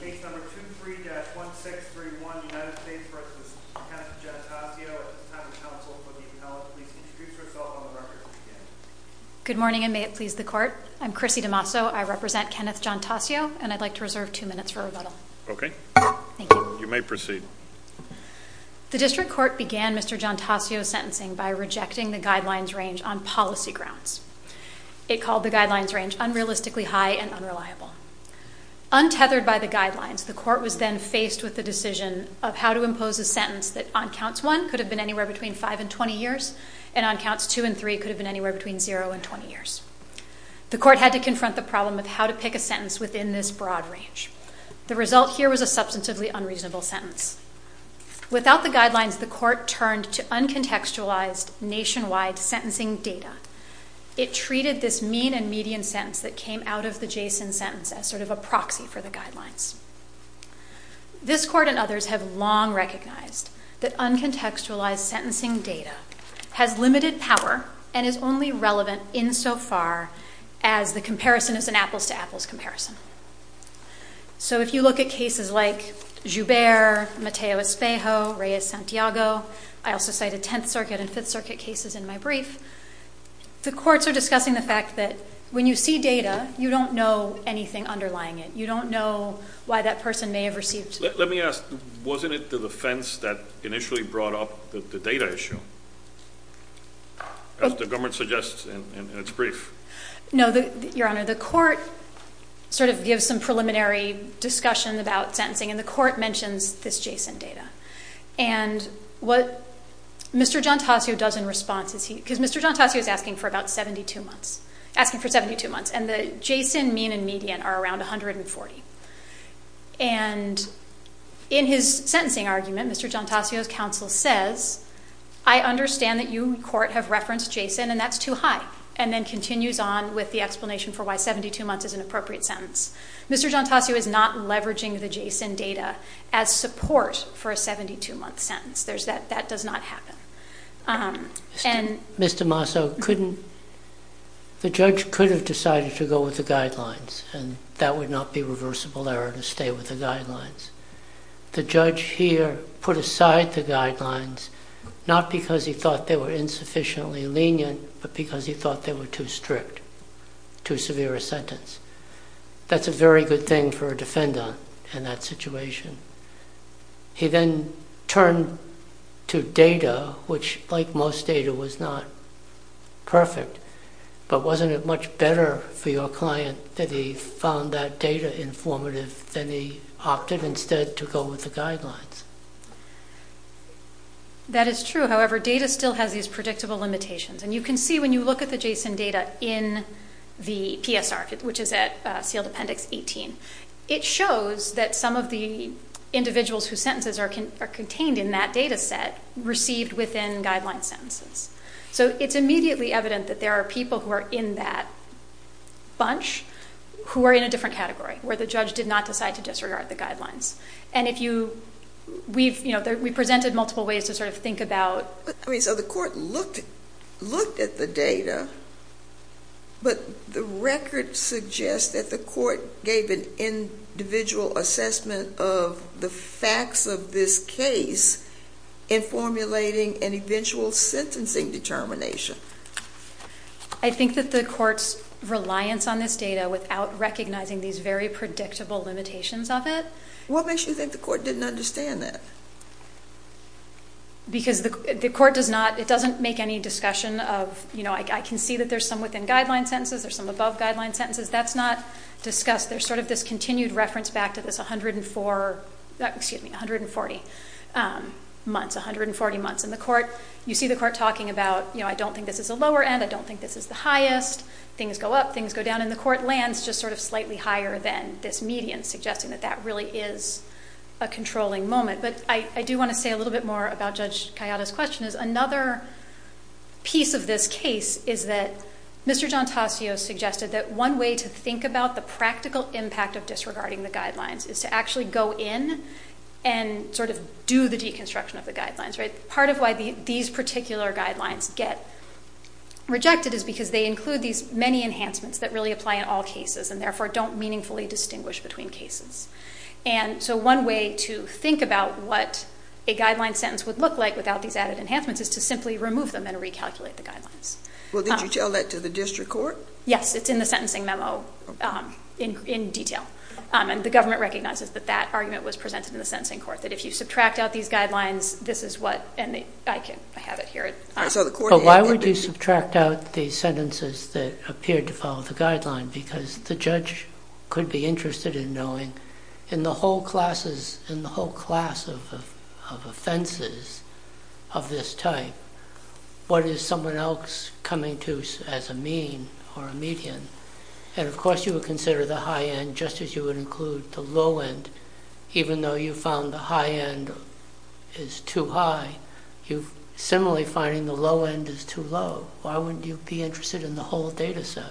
Case number 23-1631, United States v. Kenneth Gianatasio. At this time, if counsel would be compelled to please introduce herself on the record. Untethered by the guidelines, the court was then faced with the decision of how to impose a sentence that on counts 1 could have been anywhere between 5 and 20 years, and on counts 2 and 3 could have been anywhere between 0 and 20 years. The court had to confront the problem of how to pick a sentence within this broad range. The result here was a substantively unreasonable sentence. Without the guidelines, the court turned to uncontextualized nationwide sentencing data. It treated this mean and median sentence that came out of the Jason sentence as sort of a proxy for the guidelines. This court and others have long recognized that uncontextualized sentencing data has limited power and is only relevant insofar as the comparison is an apples-to-apples comparison. So if you look at cases like Joubert, Mateo Espejo, Reyes-Santiago, I also cited Tenth Circuit and Fifth Circuit cases in my brief, the courts are discussing the fact that when you see data, you don't know anything underlying it. You don't know why that person may have received. Let me ask, wasn't it the defense that initially brought up the data issue, as the government suggests in its brief? No, Your Honor. The court sort of gives some preliminary discussion about sentencing, and the court mentions this Jason data. And what Mr. Giontasio does in response is he – because Mr. Giontasio is asking for about 72 months, asking for 72 months, and the Jason mean and median are around 140. And in his sentencing argument, Mr. Giontasio's counsel says, I understand that you in court have referenced Jason, and that's too high, and then continues on with the explanation for why 72 months is an appropriate sentence. Mr. Giontasio is not leveraging the Jason data as support for a 72-month sentence. That does not happen. Mr. Masso, couldn't – the judge could have decided to go with the guidelines, and that would not be reversible error to stay with the guidelines. The judge here put aside the guidelines, not because he thought they were insufficiently lenient, but because he thought they were too strict, too severe a sentence. That's a very good thing for a defender in that situation. He then turned to data, which like most data was not perfect, but wasn't it much better for your client that he found that data informative than he opted instead to go with the guidelines? That is true. However, data still has these predictable limitations, and you can see when you look at the Jason data in the PSR, which is at sealed appendix 18. It shows that some of the individuals whose sentences are contained in that data set received within guideline sentences. So it's immediately evident that there are people who are in that bunch who are in a different category, where the judge did not decide to disregard the guidelines. And if you – we've – you know, we presented multiple ways to sort of think about – I mean, so the court looked at the data, but the record suggests that the court gave an individual assessment of the facts of this case in formulating an eventual sentencing determination. I think that the court's reliance on this data without recognizing these very predictable limitations of it – What makes you think the court didn't understand that? Because the court does not – it doesn't make any discussion of, you know, I can see that there's some within guideline sentences, there's some above guideline sentences. That's not discussed. There's sort of this continued reference back to this 104 – excuse me, 140 months, 140 months in the court. You see the court talking about, you know, I don't think this is a lower end, I don't think this is the highest. Things go up, things go down. And the court lands just sort of slightly higher than this median, suggesting that that really is a controlling moment. But I do want to say a little bit more about Judge Cayatta's question, is another piece of this case is that Mr. Giontasio suggested that one way to think about the practical impact of disregarding the guidelines is to actually go in and sort of do the deconstruction of the guidelines, right? Part of why these particular guidelines get rejected is because they include these many enhancements that really apply in all cases and therefore don't meaningfully distinguish between cases. And so one way to think about what a guideline sentence would look like without these added guidelines. Well, did you tell that to the district court? Yes. It's in the sentencing memo in detail. And the government recognizes that that argument was presented in the sentencing court, that if you subtract out these guidelines, this is what – and I have it here. So the court – But why would you subtract out the sentences that appeared to follow the guideline? Because the judge could be interested in knowing in the whole class of offenses of this type, what is someone else coming to as a mean or a median? And of course, you would consider the high end just as you would include the low end. Even though you found the high end is too high, you're similarly finding the low end is too low. Why wouldn't you be interested in the whole data set?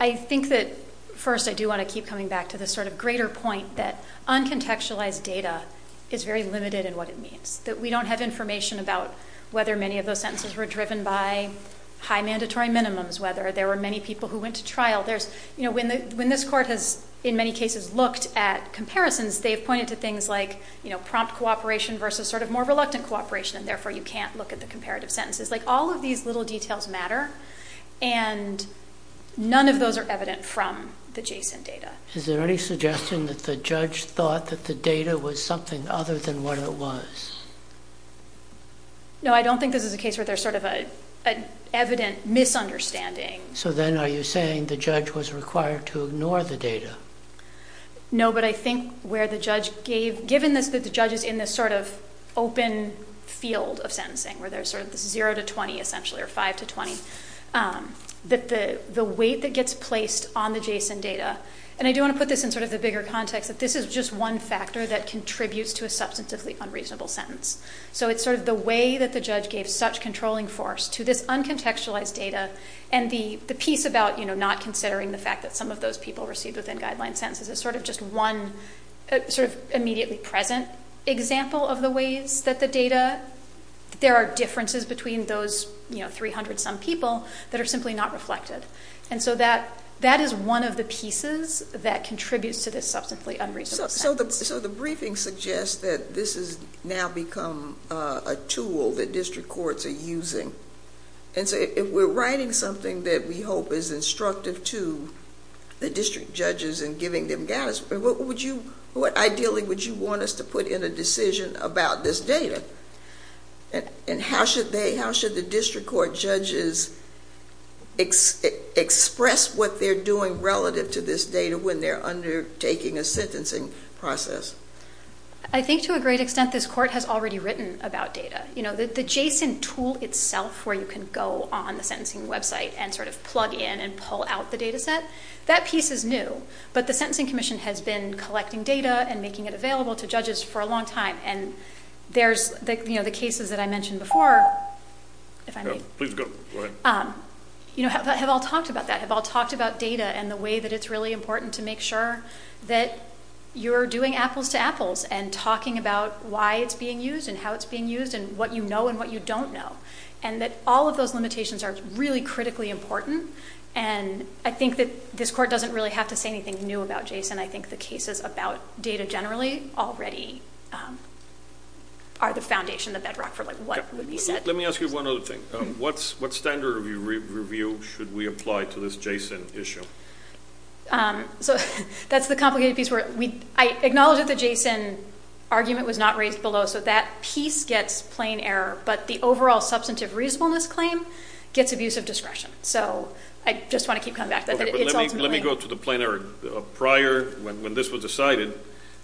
I think that, first, I do want to keep coming back to this sort of greater point that uncontextualized data is very limited in what it means, that we don't have information about whether many of those sentences were driven by high mandatory minimums, whether there were many people who went to trial. When this court has, in many cases, looked at comparisons, they have pointed to things like prompt cooperation versus sort of more reluctant cooperation, and therefore you can't look at the comparative sentences. All of these little details matter, and none of those are evident from the JSON data. Is there any suggestion that the judge thought that the data was something other than what it was? No, I don't think this is a case where there's sort of an evident misunderstanding. So then are you saying the judge was required to ignore the data? No, but I think where the judge gave, given that the judge is in this sort of open field of sentencing, where there's sort of 0 to 20, essentially, or 5 to 20, that the weight that gets placed on the JSON data, and I do want to put this in sort of the bigger context that this is just one factor that contributes to a substantively unreasonable sentence. So it's sort of the way that the judge gave such controlling force to this uncontextualized data, and the piece about not considering the fact that some of those people received within guideline sentences is sort of just one sort of immediately present example of the ways that the data, there are differences between those 300 some people that are simply not reflected. And so that is one of the pieces that contributes to this substantively unreasonable sentence. So the briefing suggests that this has now become a tool that district courts are using. And so if we're writing something that we hope is instructive to the district judges and giving them guidance, what would you, ideally, would you want us to put in a decision about this data? And how should they, how should the district court judges express what they're doing relative to this data when they're undertaking a sentencing process? I think to a great extent, this court has already written about data. You know, the JSON tool itself, where you can go on the sentencing website and sort of plug in and pull out the data set, that piece is new. But the Sentencing Commission has been collecting data and making it available to judges for a long time. And there's the, you know, the cases that I mentioned before, you know, have all talked about that, have all talked about data and the way that it's really important to make sure that you're doing apples to apples and talking about why it's being used and how it's being used and what you know and what you don't know. And that all of those limitations are really critically important. And I think that this court doesn't really have to say anything new about JSON. I think the cases about data generally already are the foundation, the bedrock for like what would be said. Let me ask you one other thing. What standard of review should we apply to this JSON issue? So that's the complicated piece where we, I acknowledge that the JSON argument was not raised below, so that piece gets plain error, but the overall substantive reasonableness claim gets abusive discretion. So I just want to keep coming back to that. But let me go to the plain error. Prior when this was decided,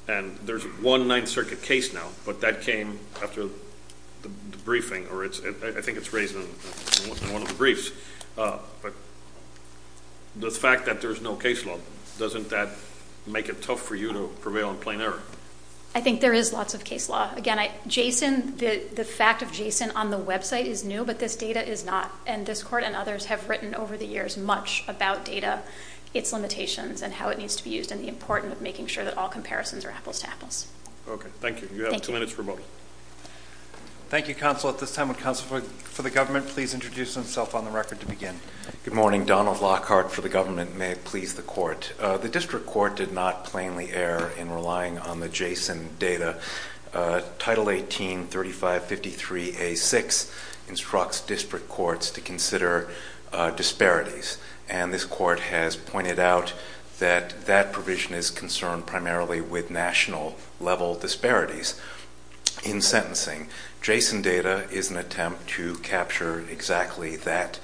and there's one Ninth Circuit case now, but that came after the briefing or it's, I think it's raised in one of the briefs, but the fact that there's no case law, doesn't that make it tough for you to prevail in plain error? I think there is lots of case law. Again, JSON, the fact of JSON on the website is new, but this data is not. And this court and others have written over the years much about data, its limitations and how it needs to be used and the importance of making sure that all comparisons are apples to apples. Okay. Thank you. You have two minutes remotely. Thank you, counsel. At this time, would counsel for the government please introduce himself on the record to begin? Good morning. Donald Lockhart for the government. May it please the court. The district court did not plainly err in relying on the JSON data. Title 18, 3553A6 instructs district courts to consider disparities. And this court has pointed out that that provision is concerned primarily with national level disparities in sentencing. JSON data is an attempt to capture exactly that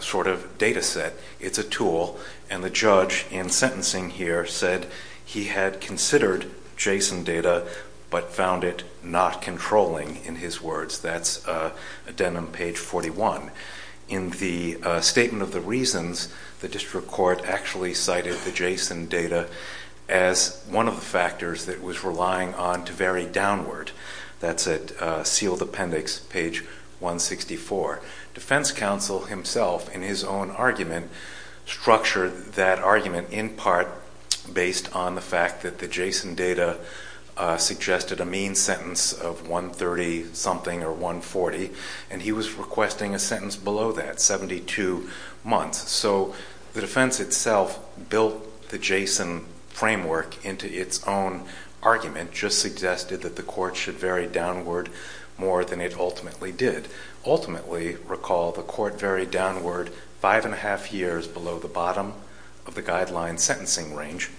sort of data set. It's a tool. And the judge in sentencing here said he had considered JSON data but found it not controlling, in his words. That's addendum page 41. In the statement of the reasons, the district court actually cited the JSON data as one of the factors that it was relying on to vary downward. That's at sealed appendix, page 164. Defense counsel himself, in his own argument, structured that argument in part based on the fact that the JSON data suggested a mean sentence of 130-something or 140. And he was requesting a sentence below that, 72 months. So the defense itself built the JSON framework into its own argument, just suggested that the court should vary downward more than it ultimately did. Ultimately, recall, the court varied downward five and a half years below the bottom of the guideline sentencing range.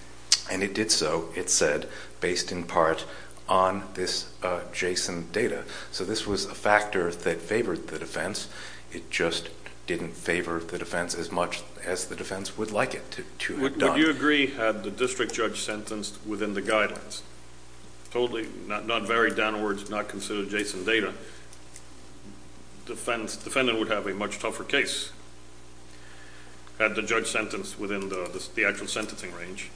And it did so, it said, based in part on this JSON data. So this was a factor that favored the defense. It just didn't favor the defense as much as the defense would like it to have done. Would you agree, had the district judge sentenced within the guidelines, totally not varied downwards, not considered JSON data, defendant would have a much tougher case, had the judge sentenced within the actual sentencing range.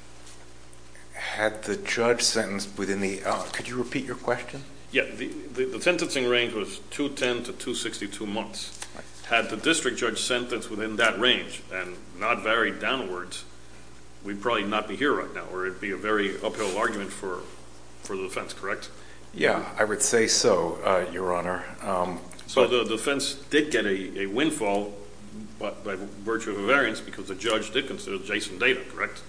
Had the judge sentenced within the, could you repeat your question? Yeah. The sentencing range was 210 to 262 months. Had the district judge sentenced within that range and not varied downwards, we'd probably not be here right now, or it'd be a very uphill argument for the defense, correct? Yeah, I would say so, Your Honor. So the defense did get a windfall by virtue of a variance because the judge did consider it JSON data, correct?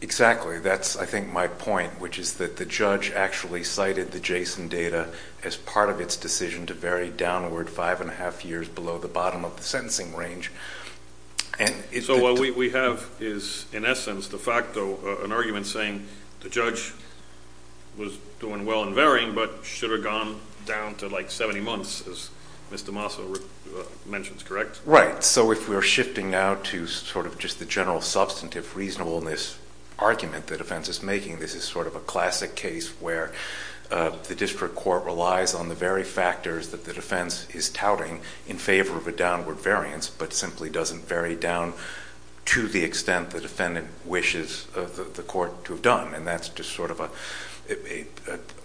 Exactly. That's, I think, my point, which is that the judge actually cited the JSON data as part of its decision to vary downward five and a half years below the bottom of the sentencing range. So what we have is, in essence, de facto, an argument saying the judge was doing well in varying, but should have gone down to like 70 months, as Mr. Massa mentions, correct? Right. So if we're shifting now to sort of just the general substantive reasonableness argument the defense is making, this is sort of a classic case where the district court relies on the very factors that the defense is touting in favor of a downward variance, but simply doesn't vary down to the extent the defendant wishes the court to have done. And that's just sort of an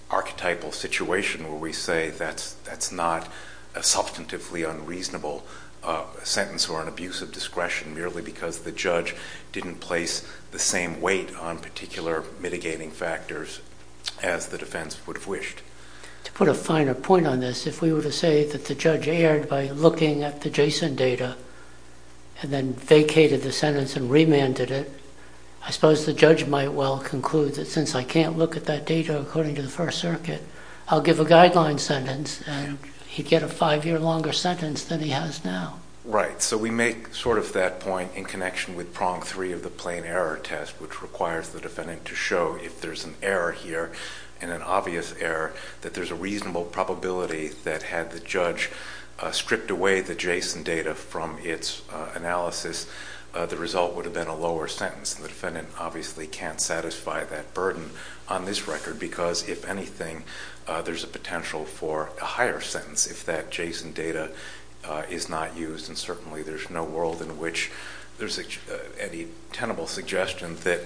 archetypal situation where we say that's not a substantively unreasonable sentence or an abuse of discretion merely because the judge didn't place the same weight on particular mitigating factors as the defense would have wished. To put a finer point on this, if we were to say that the judge erred by looking at the JSON data and then vacated the sentence and remanded it, I suppose the judge might well conclude that since I can't look at that data according to the First Circuit, I'll give a guideline sentence and he'd get a five year longer sentence than he has now. Right. So we make sort of that point in connection with prong three of the plain error test, which requires the defendant to show if there's an error here and an obvious error, that there's a reasonable probability that had the judge stripped away the JSON data from its analysis, the result would have been a lower sentence. The defendant obviously can't satisfy that burden on this record because if anything, there's a potential for a higher sentence if that JSON data is not used. And certainly there's no world in which there's any tenable suggestion that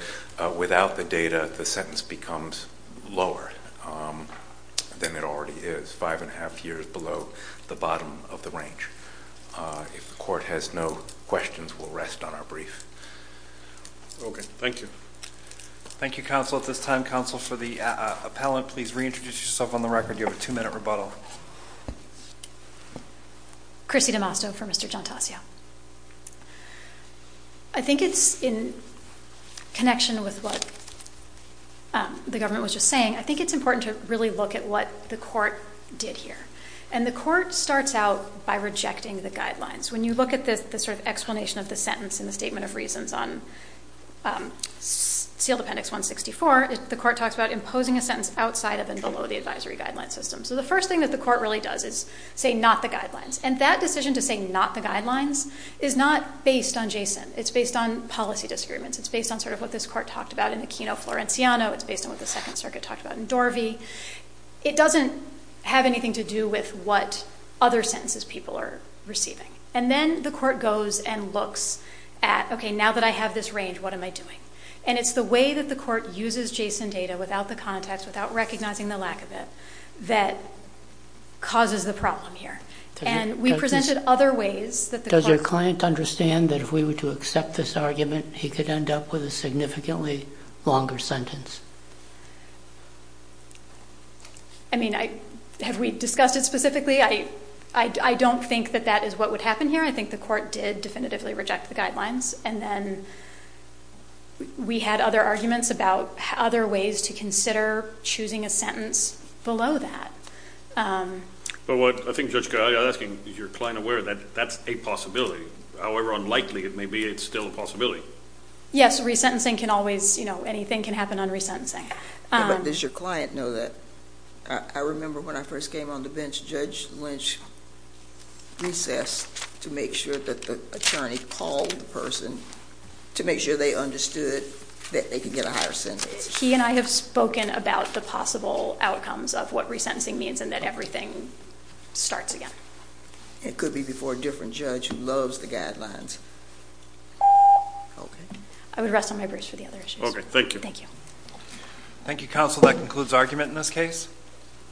without the data, the sentence becomes lower than it already is, five and a half years below the bottom of the range. If the court has no questions, we'll rest on our brief. Okay. Thank you. Thank you, counsel. At this time, counsel, for the appellant, please reintroduce yourself on the record. You have a two minute rebuttal. Chrissy DeMasto for Mr. Giantassio. I think it's in connection with what the government was just saying. I think it's important to really look at what the court did here. And the court starts out by rejecting the guidelines. When you look at the sort of explanation of the sentence in the Statement of Reasons on Sealed Appendix 164, the court talks about imposing a sentence outside of and below the advisory guideline system. So the first thing that the court really does is say not the guidelines. And that decision to say not the guidelines is not based on JSON. It's based on policy disagreements. It's based on sort of what this court talked about in Aquino Florenciano. It's based on what the Second Circuit talked about in Dorvey. It doesn't have anything to do with what other sentences people are receiving. And then the court goes and looks at, okay, now that I have this range, what am I doing? And it's the way that the court uses JSON data without the context, without recognizing the lack of it, that causes the problem here. And we presented other ways that the court could... Does your client understand that if we were to accept this argument, he could end up with a significantly longer sentence? I mean, have we discussed it specifically? I don't think that that is what would happen here. I think the court did definitively reject the guidelines. And then we had other arguments about other ways to consider choosing a sentence below that. But what I think Judge Gaglia is asking, is your client aware that that's a possibility? However unlikely it may be, it's still a possibility. Yes, resentencing can always... Anything can happen on resentencing. But does your client know that? I remember when I first came on the bench, Judge Lynch recessed to make sure that the attorney called the person to make sure they understood that they could get a higher sentence. He and I have spoken about the possible outcomes of what resentencing means and that everything starts again. It could be before a different judge who loves the guidelines. Okay. I would rest on my brace for the other issues. Okay. Thank you. Thank you. Thank you, counsel. That concludes argument in this case.